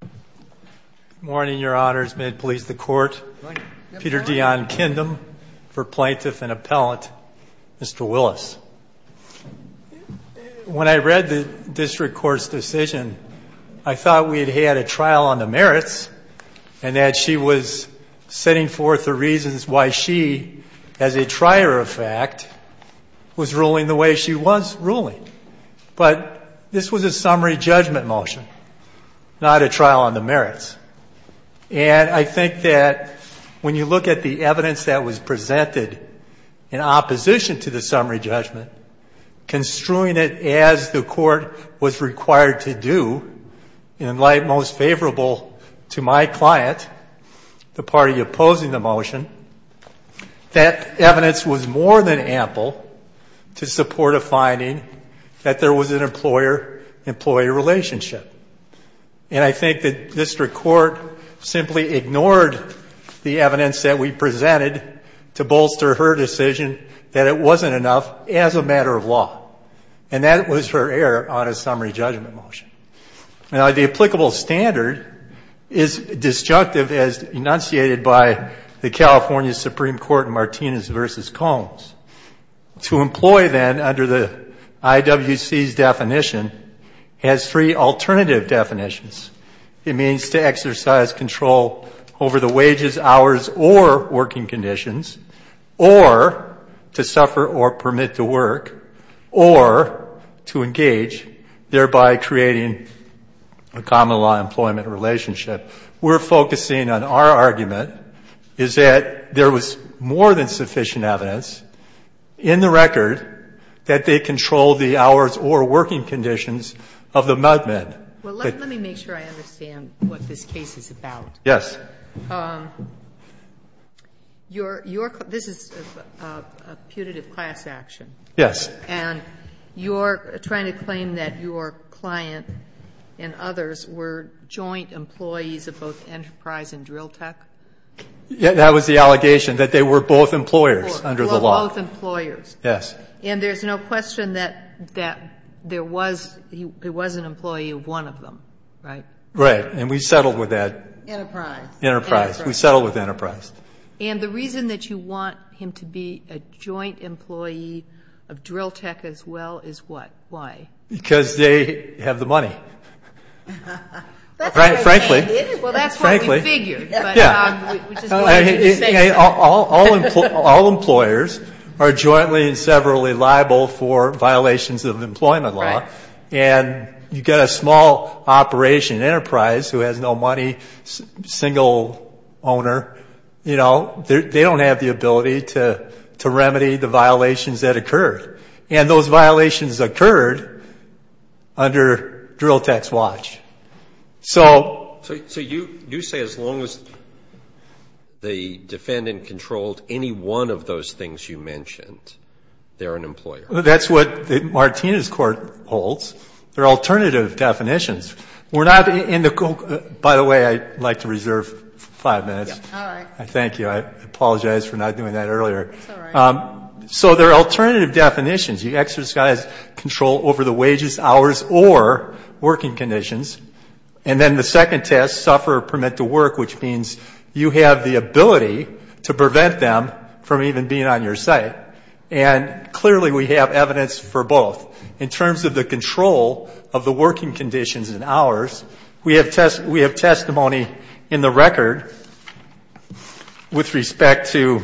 Good morning, Your Honors. May it please the Court, Peter Dion Kindom, for Plaintiff and Appellant, Mr. Willis. When I read the District Court's decision, I thought we'd had a trial on the merits, and that she was setting forth the reasons why she, as a trier of fact, was ruling the way she was ruling. But this was a summary judgment motion, not a trial on the merits. And I think that when you look at the evidence that was presented in opposition to the summary judgment, construing it as the Court was required to do, in light most favorable to my client, the party opposing the motion, that evidence was more than ample to support a finding that there was an employer-employee relationship. And I think that District Court simply ignored the evidence that we presented to bolster her decision that it wasn't enough as a matter of law. And that was her error on a summary judgment motion. Now, the applicable standard is disjunctive, as enunciated by the California Supreme Court in Martinez v. Combs. To employ, then, under the IWC's definition, has three alternative definitions. It means to exercise control over the wages, hours, or working conditions, or to suffer or permit to work, or to engage, thereby creating a common-law employment relationship. We're focusing on our argument, is that there was more than sufficient evidence in the record that they controlled the hours or working conditions of the mud men. Sotomayor, let me make sure I understand what this case is about. Yes. This is a putative class action. Yes. And you're trying to claim that your client and others were joint employees of both Enterprise and Drill Tech? That was the allegation, that they were both employers under the law. Both employers. Yes. And there's no question that there was an employee of one of them, right? Right. And we settled with that. Enterprise. Enterprise. We settled with Enterprise. And the reason that you want him to be a joint employee of Drill Tech, as well, is what? Why? Because they have the money. Frankly. Well, that's what we figured. All employers are jointly and severally liable for violations of employment law. And you've got a small operation, Enterprise, who has no money, single owner, you know, they don't have the ability to remedy the violations that occurred. And those violations occurred under Drill Tech's watch. So you say as long as the defendant controlled any one of those things you mentioned, they're an employer? That's what Martina's court holds. They're alternative definitions. By the way, I'd like to reserve five minutes. All right. Thank you. I apologize for not doing that earlier. It's all right. So they're alternative definitions. You exercise control over the wages, hours, or working conditions. And then the second test, suffer or permit to work, which means you have the ability to prevent them from even being on your site. And clearly we have evidence for both. In terms of the control of the working conditions and hours, we have testimony in the record with respect to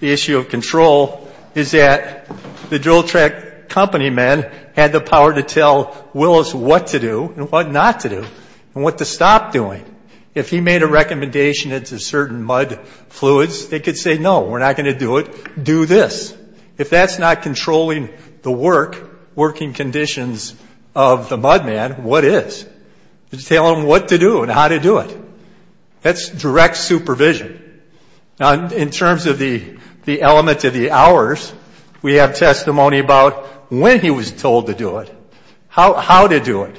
the issue of control, is that the Drill Tech company men had the power to tell Willis what to do and what not to do and what to stop doing. If he made a recommendation as to certain mud fluids, they could say, no, we're not going to do it. Do this. If that's not controlling the work, working conditions of the mud man, what is? Tell him what to do and how to do it. That's direct supervision. In terms of the elements of the hours, we have testimony about when he was told to do it, how to do it,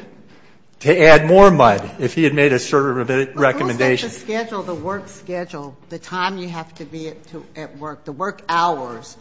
to add more mud if he had made a certain recommendation. But who set the schedule, the work schedule, the time you have to be at work, the work hours,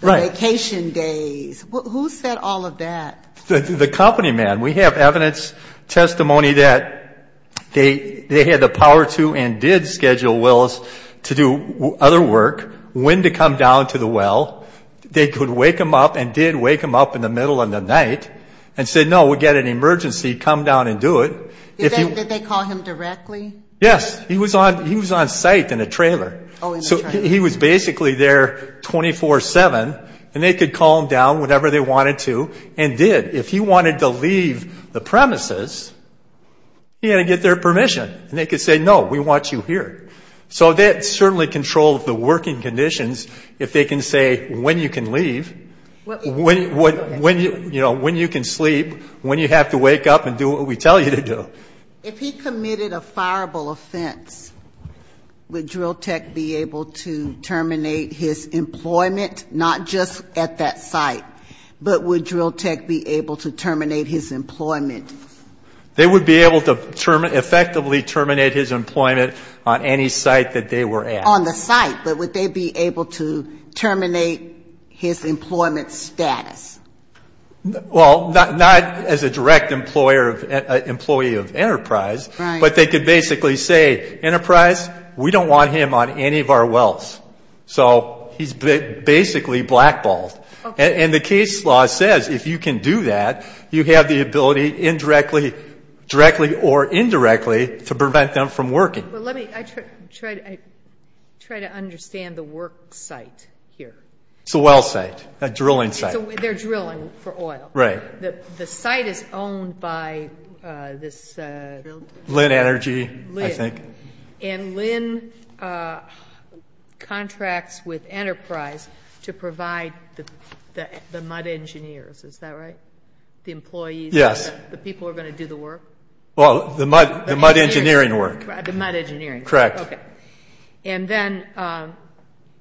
the vacation days? Who set all of that? The company men. We have evidence, testimony that they had the power to and did schedule Willis to do other work, when to come down to the well. They could wake him up and did wake him up in the middle of the night and said, no, we've got an emergency. Come down and do it. Did they call him directly? Yes. He was on site in a trailer. So he was basically there 24-7, and they could call him down whenever they wanted to and did. If he wanted to leave the premises, he had to get their permission. And they could say, no, we want you here. So they certainly controlled the working conditions. If they can say when you can leave, when you can sleep, when you have to wake up and do what we tell you to do. If he committed a fireable offense, would Drill Tech be able to terminate his employment, not just at that site, but would Drill Tech be able to terminate his employment? They would be able to effectively terminate his employment on any site that they were at. On the site, but would they be able to terminate his employment status? Well, not as a direct employee of Enterprise. Right. But they could basically say, Enterprise, we don't want him on any of our wells. So he's basically blackballed. And the case law says if you can do that, you have the ability, directly or indirectly, to prevent them from working. Well, let me try to understand the work site here. It's a well site, a drilling site. They're drilling for oil. Right. The site is owned by this ______. Lynn Energy, I think. And Lynn contracts with Enterprise to provide the mud engineers. Is that right? The employees? Yes. The people who are going to do the work? Well, the mud engineering work. The mud engineering. Correct. Okay. And then,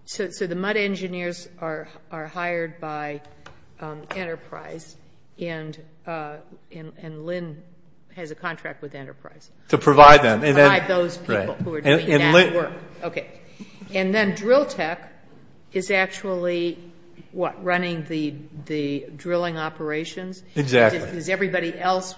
so the mud engineers are hired by Enterprise, and Lynn has a contract with Enterprise. To provide them. To provide those people who are doing that work. Okay. And then, Drill Tech is actually, what, running the drilling operations? Exactly. Does everybody else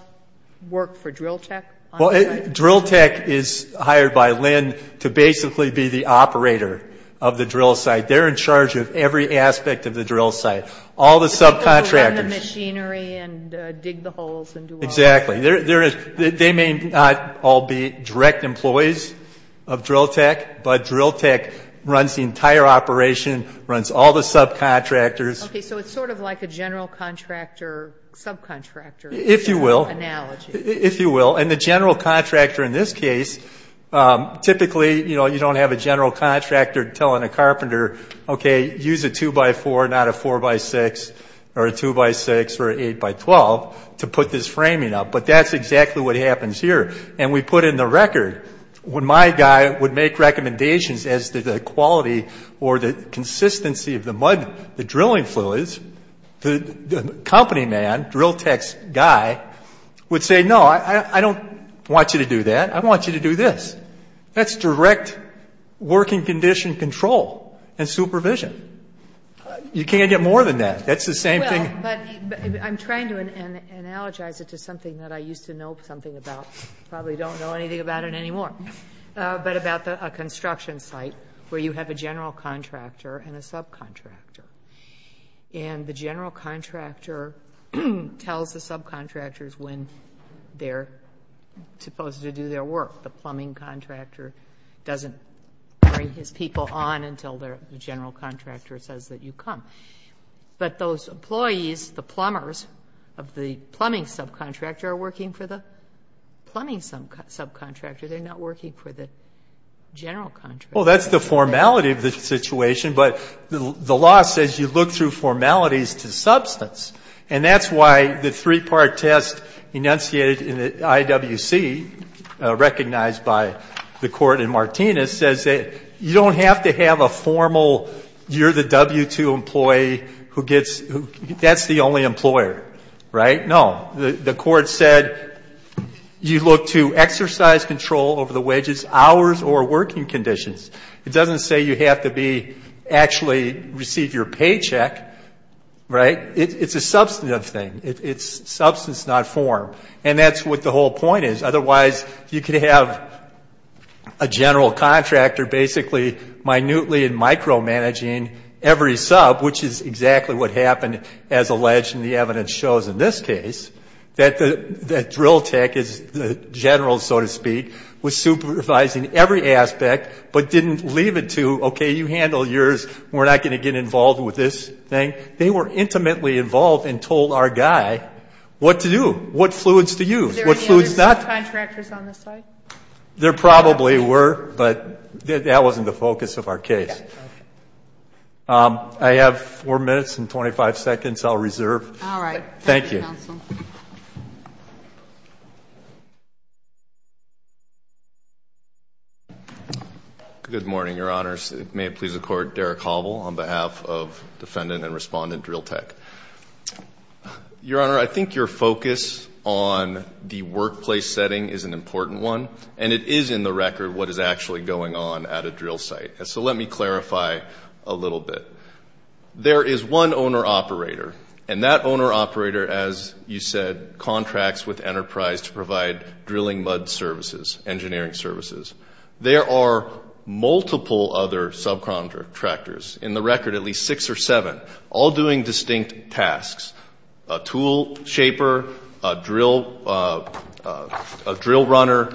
work for Drill Tech? Well, Drill Tech is hired by Lynn to basically be the operator of the drill site. They're in charge of every aspect of the drill site. All the subcontractors. The people who run the machinery and dig the holes and do all that. Exactly. They may not all be direct employees of Drill Tech, but Drill Tech runs the entire operation, runs all the subcontractors. Okay, so it's sort of like a general contractor, subcontractor analogy. If you will. And the general contractor in this case, typically you don't have a general contractor telling a carpenter, okay, use a 2x4, not a 4x6 or a 2x6 or an 8x12 to put this framing up. But that's exactly what happens here. And we put in the record, when my guy would make recommendations as to the quality or the consistency of the mud, the drilling fluids, the company man, Drill Tech's guy, would say, no, I don't want you to do that. I want you to do this. That's direct working condition control and supervision. You can't get more than that. That's the same thing. Well, but I'm trying to analogize it to something that I used to know something about. Probably don't know anything about it anymore. But about a construction site where you have a general contractor and a subcontractor. And the general contractor tells the subcontractors when they're supposed to do their work. The plumbing contractor doesn't bring his people on until the general contractor says that you come. But those employees, the plumbers of the plumbing subcontractor, are working for the plumbing subcontractor. They're not working for the general contractor. Well, that's the formality of the situation. But the law says you look through formalities to substance. And that's why the three-part test enunciated in the IWC, recognized by the court in Martinez, says that you don't have to have a formal, you're the W-2 employee who gets, that's the only employer, right? No. The court said you look to exercise control over the wages, hours, or working conditions. It doesn't say you have to be, actually receive your paycheck, right? It's a substantive thing. It's substance, not form. And that's what the whole point is. Otherwise, you could have a general contractor basically minutely and micromanaging every sub, which is exactly what happened as alleged in the evidence shows in this case, that the drill tech is the general, so to speak, was supervising every aspect but didn't leave it to, okay, you handle yours, we're not going to get involved with this thing. They were intimately involved and told our guy what to do, what fluids to use. What fluids not to use. Are there any other subcontractors on the site? There probably were, but that wasn't the focus of our case. Okay. I have 4 minutes and 25 seconds. I'll reserve. All right. Thank you. Thank you, counsel. Good morning, Your Honors. May it please the Court, Derek Hovel on behalf of defendant and respondent drill tech. Your Honor, I think your focus on the workplace setting is an important one, and it is in the record what is actually going on at a drill site. So let me clarify a little bit. There is one owner-operator, and that owner-operator, as you said, contracts with Enterprise to provide drilling mud services, engineering services. There are multiple other subcontractors, in the record at least six or seven, all doing distinct tasks, a tool shaper, a drill runner,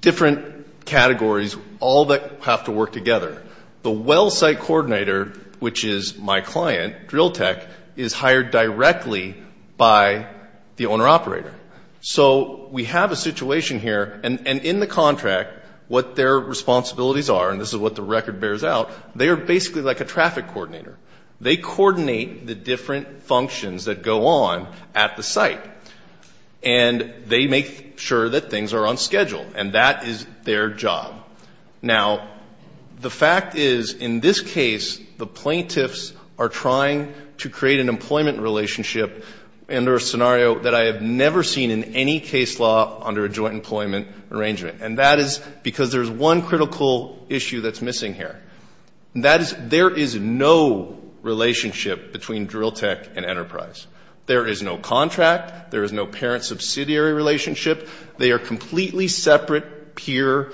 different categories, all that have to work together. The well site coordinator, which is my client, drill tech, is hired directly by the owner-operator. So we have a situation here, and in the contract, what their responsibilities are, and this is what the record bears out, they are basically like a traffic coordinator. They coordinate the different functions that go on at the site, and they make sure that things are on schedule, and that is their job. Now, the fact is, in this case, the plaintiffs are trying to create an employment relationship, under a scenario that I have never seen in any case law under a joint employment arrangement, and that is because there is one critical issue that is missing here. There is no relationship between drill tech and Enterprise. There is no contract. There is no parent-subsidiary relationship. They are completely separate peer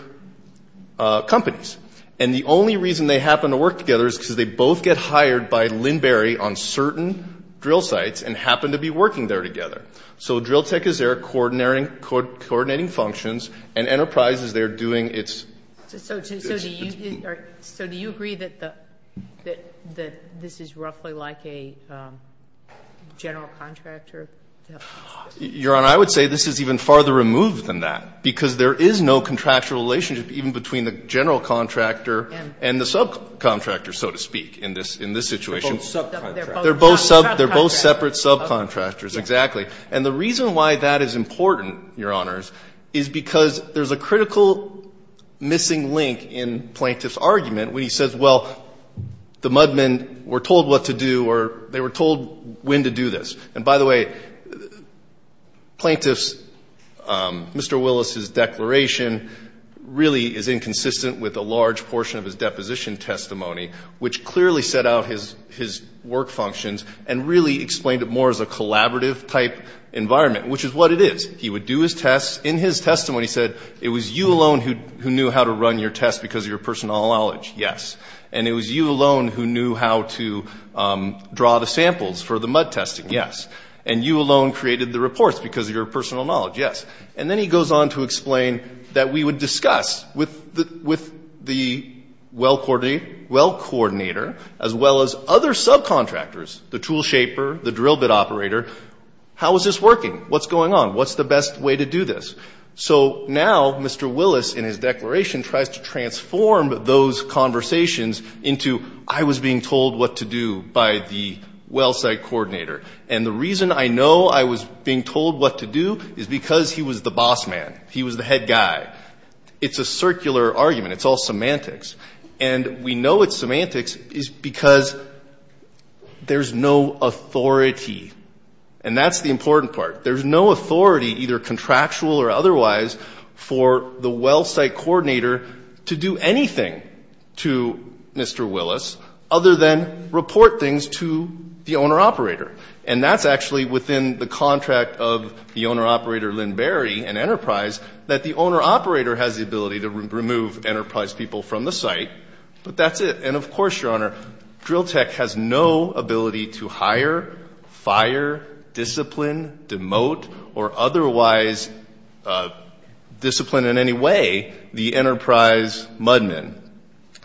companies, and the only reason they happen to work together is because they both get hired by Linberry on certain drill sites and happen to be working there together. So drill tech is there coordinating functions, and Enterprise is there doing its... So do you agree that this is roughly like a general contractor? Your Honor, I would say this is even farther removed than that, because there is no contractual relationship even between the general contractor and the subcontractor, so to speak, in this situation. They are both subcontractors. They are both separate subcontractors, exactly. And the reason why that is important, Your Honors, is because there is a critical missing link in Plaintiff's argument when he says, well, the mudmen were told what to do or they were told when to do this. And by the way, Plaintiff's, Mr. Willis's declaration really is inconsistent with a large portion of his deposition testimony, which clearly set out his work functions and really explained it more as a collaborative-type environment, which is what it is. He would do his tests. In his testimony, he said it was you alone who knew how to run your test because of your personal knowledge. Yes. And it was you alone who knew how to draw the samples for the mud testing. Yes. And you alone created the reports because of your personal knowledge. Yes. And then he goes on to explain that we would discuss with the well coordinator as well as other subcontractors, the tool shaper, the drill bit operator, how is this working? What's going on? What's the best way to do this? So now Mr. Willis, in his declaration, tries to transform those conversations into I was being told what to do by the well site coordinator. And the reason I know I was being told what to do is because he was the boss man. He was the head guy. It's a circular argument. It's all semantics. And we know it's semantics because there's no authority. And that's the important part. There's no authority, either contractual or otherwise, for the well site coordinator to do anything to Mr. Willis other than report things to the owner-operator. And that's actually within the contract of the owner-operator Lynn Barry and Enterprise that the owner-operator has the ability to remove Enterprise people from the site. But that's it. And, of course, Your Honor, Drill Tech has no ability to hire, fire, discipline, demote, or otherwise discipline in any way the Enterprise mud men.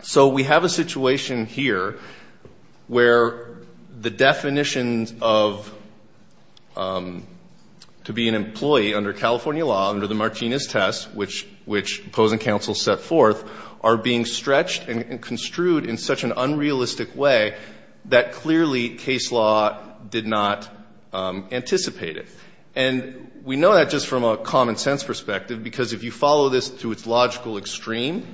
So we have a situation here where the definitions of to be an employee under California law, under the Martinez test, which opposing counsel set forth, are being stretched and construed in such an unrealistic way that clearly case law did not anticipate it. And we know that just from a common sense perspective because if you follow this to its logical extreme,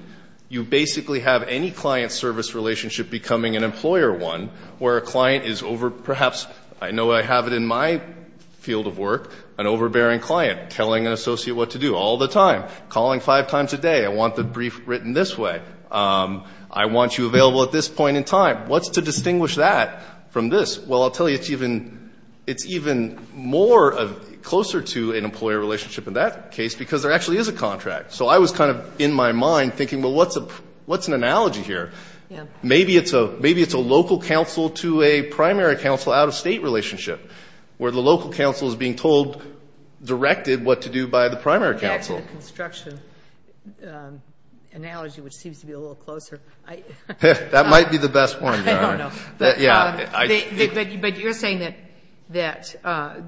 you basically have any client-service relationship becoming an employer one where a client is over, perhaps, I know I have it in my field of work, an overbearing client telling an associate what to do all the time, calling five times a day, I want the brief written this way, I want you available at this point in time. What's to distinguish that from this? Well, I'll tell you it's even more closer to an employer relationship in that case because there actually is a contract. So I was kind of in my mind thinking, well, what's an analogy here? Maybe it's a local counsel to a primary counsel out-of-state relationship where the local counsel is being told, directed what to do by the primary counsel. That's a construction analogy which seems to be a little closer. That might be the best one. I don't know. But you're saying that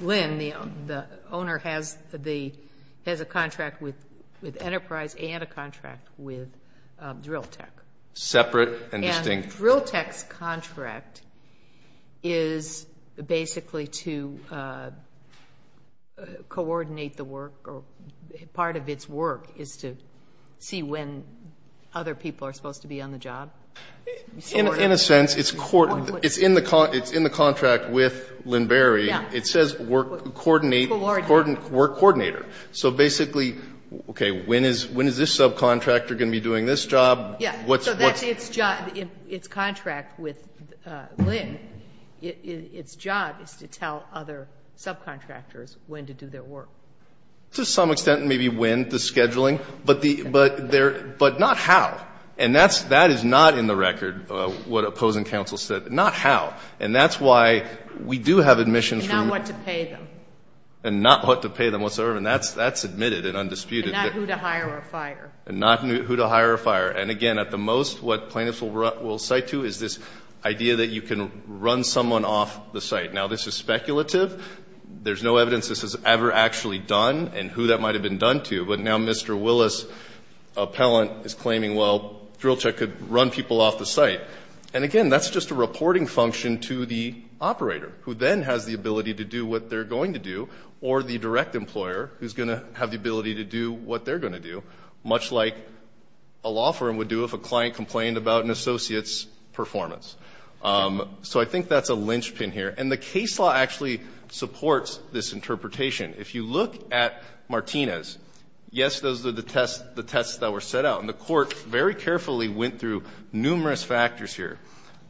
Lynn, the owner, has a contract with Enterprise and a contract with Drill Tech. Separate and distinct. So Drill Tech's contract is basically to coordinate the work or part of its work is to see when other people are supposed to be on the job? In a sense, it's in the contract with Lynn Berry. It says work coordinator. So basically, okay, when is this subcontractor going to be doing this job? Yes. So that's its job. Its contract with Lynn, its job is to tell other subcontractors when to do their work. To some extent, maybe when the scheduling. But not how. And that is not in the record what opposing counsel said. Not how. And that's why we do have admissions from. And not what to pay them. And not what to pay them whatsoever. And that's admitted and undisputed. And not who to hire or fire. And not who to hire or fire. And, again, at the most, what plaintiffs will cite to is this idea that you can run someone off the site. Now, this is speculative. There's no evidence this is ever actually done and who that might have been done to. But now Mr. Willis, appellant, is claiming, well, Drill Tech could run people off the site. And, again, that's just a reporting function to the operator who then has the ability to do what they're going to do. Or the direct employer who's going to have the ability to do what they're going to do. Much like a law firm would do if a client complained about an associate's performance. So I think that's a linchpin here. And the case law actually supports this interpretation. If you look at Martinez, yes, those are the tests that were set out. And the court very carefully went through numerous factors here.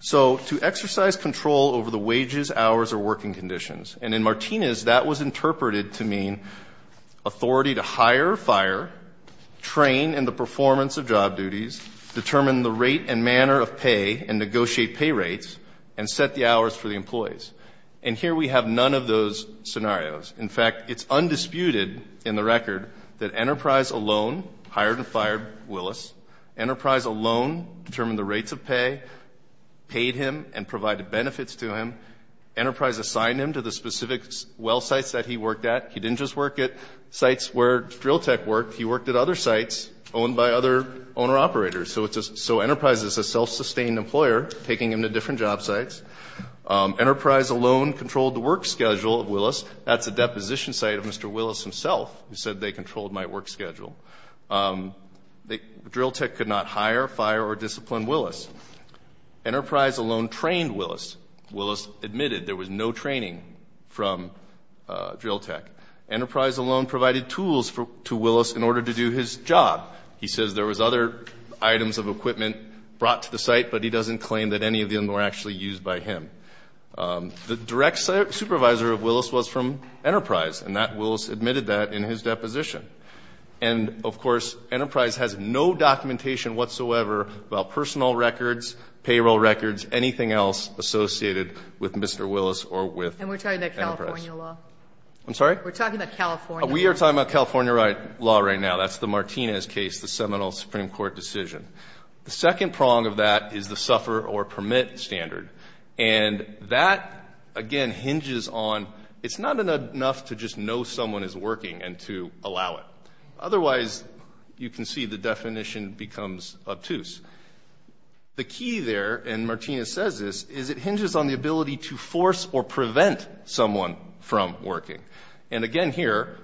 So to exercise control over the wages, hours, or working conditions. And in Martinez, that was interpreted to mean authority to hire or fire, train in the performance of job duties, determine the rate and manner of pay and negotiate pay rates, and set the hours for the employees. And here we have none of those scenarios. In fact, it's undisputed in the record that Enterprise alone hired and fired Willis. Enterprise alone determined the rates of pay, paid him and provided benefits to him. Enterprise assigned him to the specific well sites that he worked at. He didn't just work at sites where Drill Tech worked. He worked at other sites owned by other owner-operators. So Enterprise is a self-sustained employer taking him to different job sites. Enterprise alone controlled the work schedule of Willis. That's a deposition site of Mr. Willis himself who said they controlled my work schedule. Drill Tech could not hire, fire, or discipline Willis. Enterprise alone trained Willis. Willis admitted there was no training from Drill Tech. Enterprise alone provided tools to Willis in order to do his job. He says there was other items of equipment brought to the site, but he doesn't claim that any of them were actually used by him. The direct supervisor of Willis was from Enterprise, and Willis admitted that in his deposition. And, of course, Enterprise has no documentation whatsoever about personal records, payroll records, anything else associated with Mr. Willis or with Enterprise. And we're talking about California law. I'm sorry? We're talking about California law. We are talking about California law right now. That's the Martinez case, the seminal Supreme Court decision. The second prong of that is the suffer or permit standard. And that, again, hinges on it's not enough to just know someone is working and to allow it. Otherwise, you can see the definition becomes obtuse. The key there, and Martinez says this, is it hinges on the ability to force or prevent someone from working. And, again, here,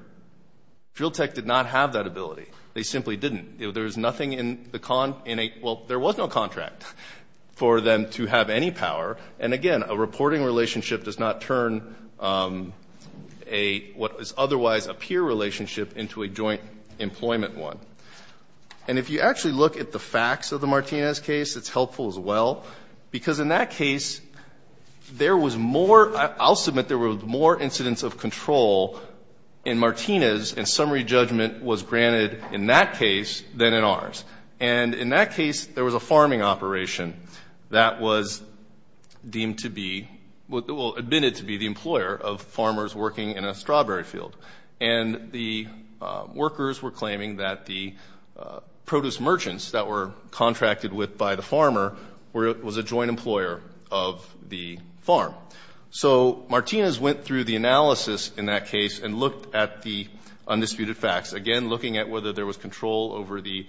Drill Tech did not have that ability. They simply didn't. There was nothing in the con, in a, well, there was no contract for them to have any power. And, again, a reporting relationship does not turn a, what is otherwise a peer relationship, into a joint employment one. And if you actually look at the facts of the Martinez case, it's helpful as well, because in that case, there was more, I'll submit there were more incidents of control in Martinez, and summary judgment was granted in that case than in ours. And in that case, there was a farming operation that was deemed to be, well, admitted to be the employer of farmers working in a strawberry field. And the workers were claiming that the produce merchants that were contracted with by the farmer was a joint employer of the farm. So Martinez went through the analysis in that case and looked at the undisputed facts, again, looking at whether there was control over the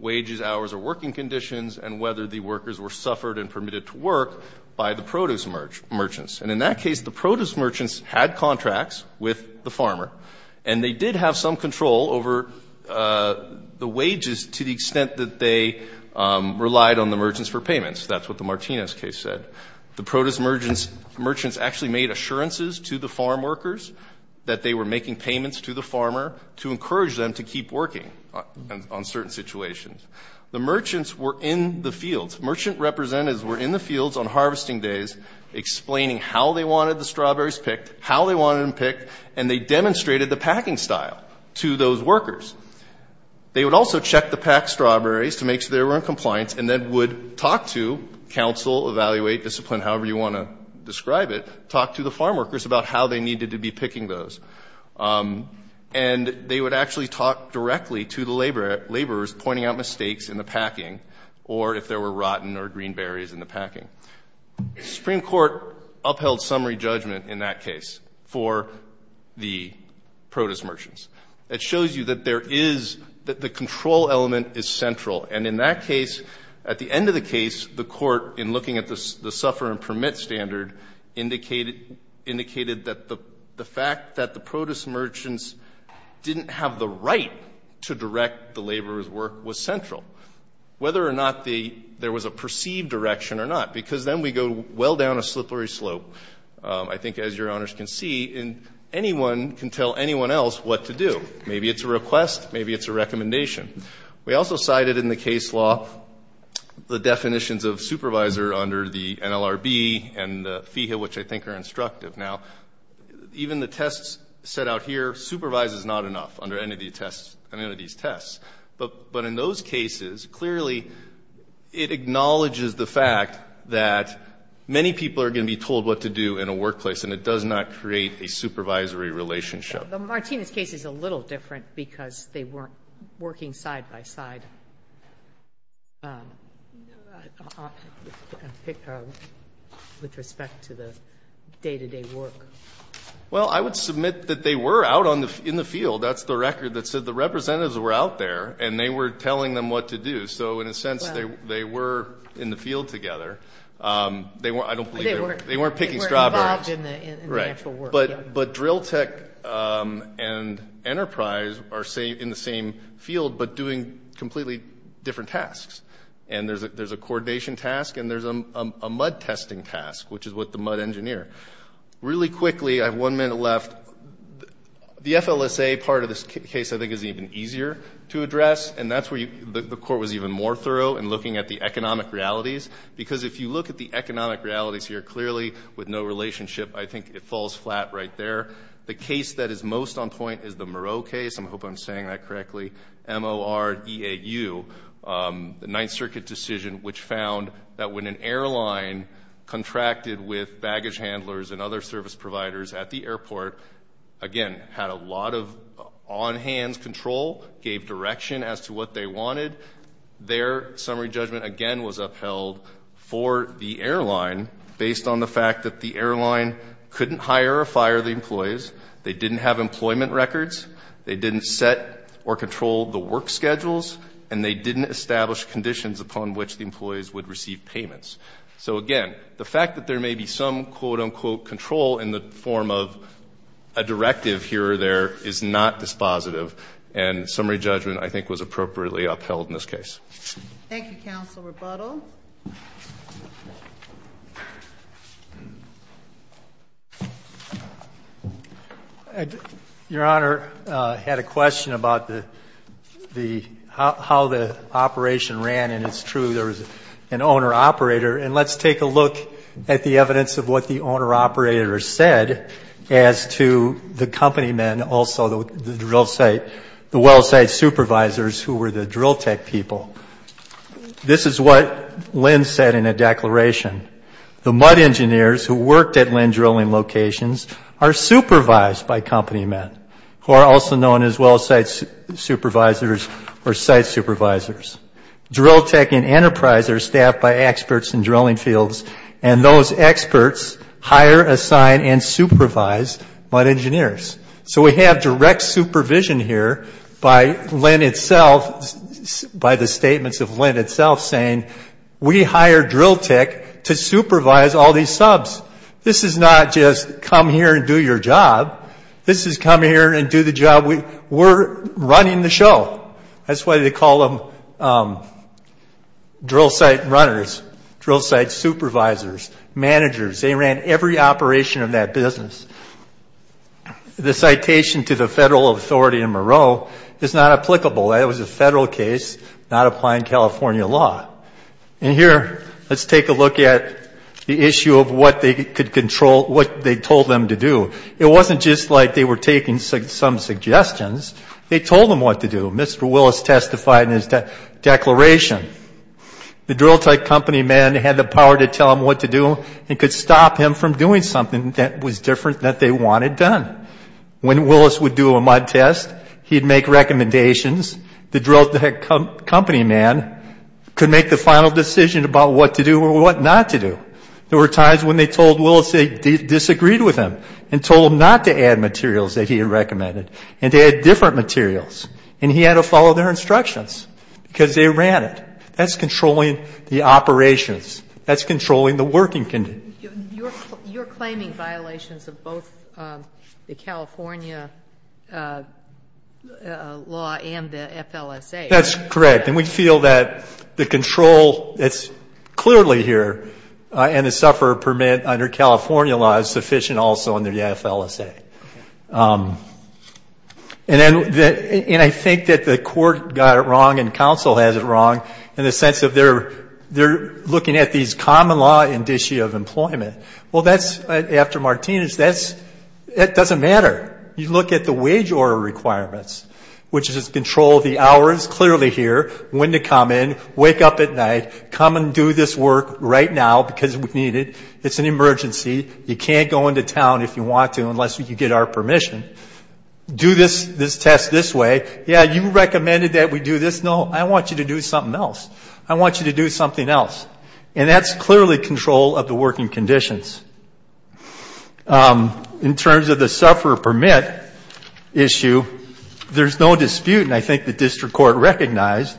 wages, hours, or working conditions, and whether the workers were suffered and permitted to work by the produce merchants. And in that case, the produce merchants had contracts with the farmer, and they did have some control over the wages to the extent that they relied on the merchants for payments. That's what the Martinez case said. The produce merchants actually made assurances to the farm workers that they were making payments to the farmer to encourage them to keep working on certain situations. The merchants were in the fields. Merchant representatives were in the fields on harvesting days, explaining how they wanted the strawberries picked, how they wanted them picked, and they demonstrated the packing style to those workers. They would also check the packed strawberries to make sure they were in compliance and then would talk to counsel, evaluate, discipline, however you want to describe it, talk to the farm workers about how they needed to be picking those. And they would actually talk directly to the laborers, pointing out mistakes in the packing or if there were rotten or green berries in the packing. The Supreme Court upheld summary judgment in that case for the produce merchants. It shows you that there is the control element is central. And in that case, at the end of the case, the Court, in looking at the suffer and permit standard, indicated that the fact that the produce merchants didn't have the right to direct the laborers' work was central, whether or not there was a perceived direction or not, because then we go well down a slippery slope, I think, as Your Honors can see, and anyone can tell anyone else what to do. Maybe it's a recommendation. We also cited in the case law the definitions of supervisor under the NLRB and the FEHA, which I think are instructive. Now, even the tests set out here, supervise is not enough under any of these tests. But in those cases, clearly, it acknowledges the fact that many people are going to be told what to do in a workplace, and it does not create a supervisory relationship. The Martinez case is a little different because they weren't working side by side with respect to the day-to-day work. Well, I would submit that they were out in the field. That's the record that said the representatives were out there, and they were telling them what to do. So in a sense, they were in the field together. I don't believe they were. They weren't picking strawberries. They were involved in the actual work. But drill tech and enterprise are in the same field but doing completely different tasks. And there's a coordination task, and there's a mud testing task, which is with the mud engineer. Really quickly, I have one minute left. The FLSA part of this case, I think, is even easier to address, and that's where the court was even more thorough in looking at the economic realities because if you look at the economic realities here, clearly with no relationship, I think it falls flat right there. The case that is most on point is the Moreau case. I hope I'm saying that correctly, M-O-R-E-A-U, the Ninth Circuit decision, which found that when an airline contracted with baggage handlers and other service providers at the airport, again, had a lot of on-hands control, gave direction as to what they wanted, their summary judgment, again, was upheld for the airline based on the fact that the airline couldn't hire or fire the employees, they didn't have employment records, they didn't set or control the work schedules, and they didn't establish conditions upon which the employees would receive payments. So, again, the fact that there may be some, quote, unquote, control in the form of a directive here or there is not dispositive, and summary judgment, I think, was appropriately upheld in this case. Thank you, Counsel Rebuttal. Your Honor, I had a question about how the operation ran, and it's true there was an owner-operator, and let's take a look at the evidence of what the owner-operator said as to the company men, and also the drill site, the well site supervisors who were the drill tech people. This is what Lynn said in a declaration. The mud engineers who worked at Lynn drilling locations are supervised by company men, who are also known as well site supervisors or site supervisors. Drill tech and enterprise are staffed by experts in drilling fields, and those experts hire, assign, and supervise mud engineers. So we have direct supervision here by Lynn itself, by the statements of Lynn itself, saying we hire drill tech to supervise all these subs. This is not just come here and do your job. This is come here and do the job. We're running the show. That's why they call them drill site runners, drill site supervisors, managers. They ran every operation of that business. The citation to the federal authority in Moreau is not applicable. That was a federal case, not applying California law. And here, let's take a look at the issue of what they told them to do. It wasn't just like they were taking some suggestions. They told them what to do. Mr. Willis testified in his declaration. The drill tech company man had the power to tell him what to do and could stop him from doing something that was different that they wanted done. When Willis would do a mud test, he'd make recommendations. The drill tech company man could make the final decision about what to do or what not to do. There were times when they told Willis they disagreed with him and told him not to add materials that he had recommended and to add different materials. And he had to follow their instructions because they ran it. That's controlling the operations. That's controlling the working condition. You're claiming violations of both the California law and the FLSA. That's correct. And we feel that the control that's clearly here and the sufferer permit under California law is sufficient also under the FLSA. Okay. And I think that the court got it wrong and counsel has it wrong in the sense of they're looking at these common law indicia of employment. Well, that's after Martinez. That doesn't matter. You look at the wage order requirements, which is control the hours clearly here, when to come in, wake up at night, come and do this work right now because we need it. It's an emergency. You can't go into town if you want to unless you get our permission. Do this test this way. Yeah, you recommended that we do this. No, I want you to do something else. I want you to do something else. And that's clearly control of the working conditions. In terms of the sufferer permit issue, there's no dispute, and I think the district court recognized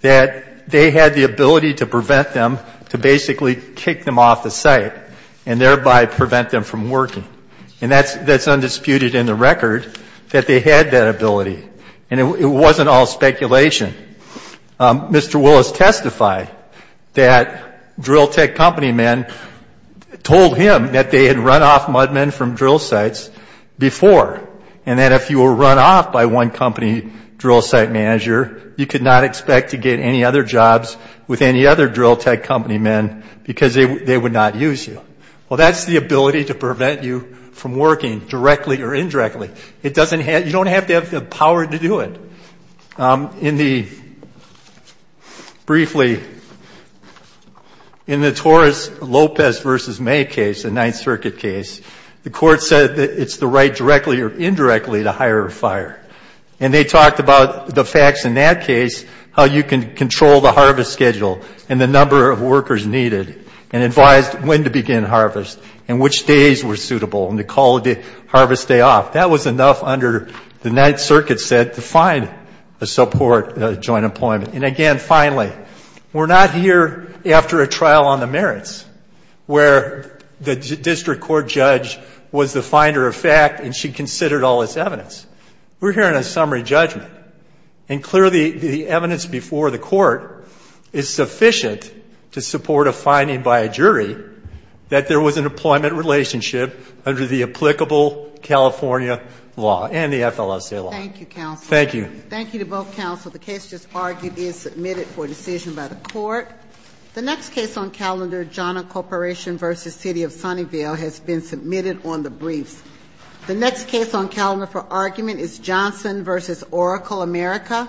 that they had the ability to prevent them, to basically kick them off the site and thereby prevent them from working. And that's undisputed in the record that they had that ability. And it wasn't all speculation. Mr. Willis testified that drill tech company men told him that they had run off mud men from drill sites before and that if you were run off by one company drill site manager, you could not expect to get any other jobs with any other drill tech company men because they would not use you. Well, that's the ability to prevent you from working directly or indirectly. You don't have to have the power to do it. Briefly, in the Torres Lopez v. May case, the Ninth Circuit case, the court said that it's the right directly or indirectly to hire a fire. And they talked about the facts in that case, how you can control the harvest schedule and the number of workers needed and advised when to begin harvest and which days were suitable and to call the harvest day off. That was enough under the Ninth Circuit set to find a support joint employment. And again, finally, we're not here after a trial on the merits where the district court judge was the finder of fact and she considered all this evidence. We're here on a summary judgment. And clearly, the evidence before the court is sufficient to support a finding by a jury that there was an employment relationship under the applicable California law and the FLSA law. Thank you, counsel. Thank you. Thank you to both counsel. The case just argued is submitted for decision by the court. The next case on calendar, Johnna Corporation v. City of Sunnyvale, has been submitted on the briefs. The next case on calendar for argument is Johnson v. Oracle America.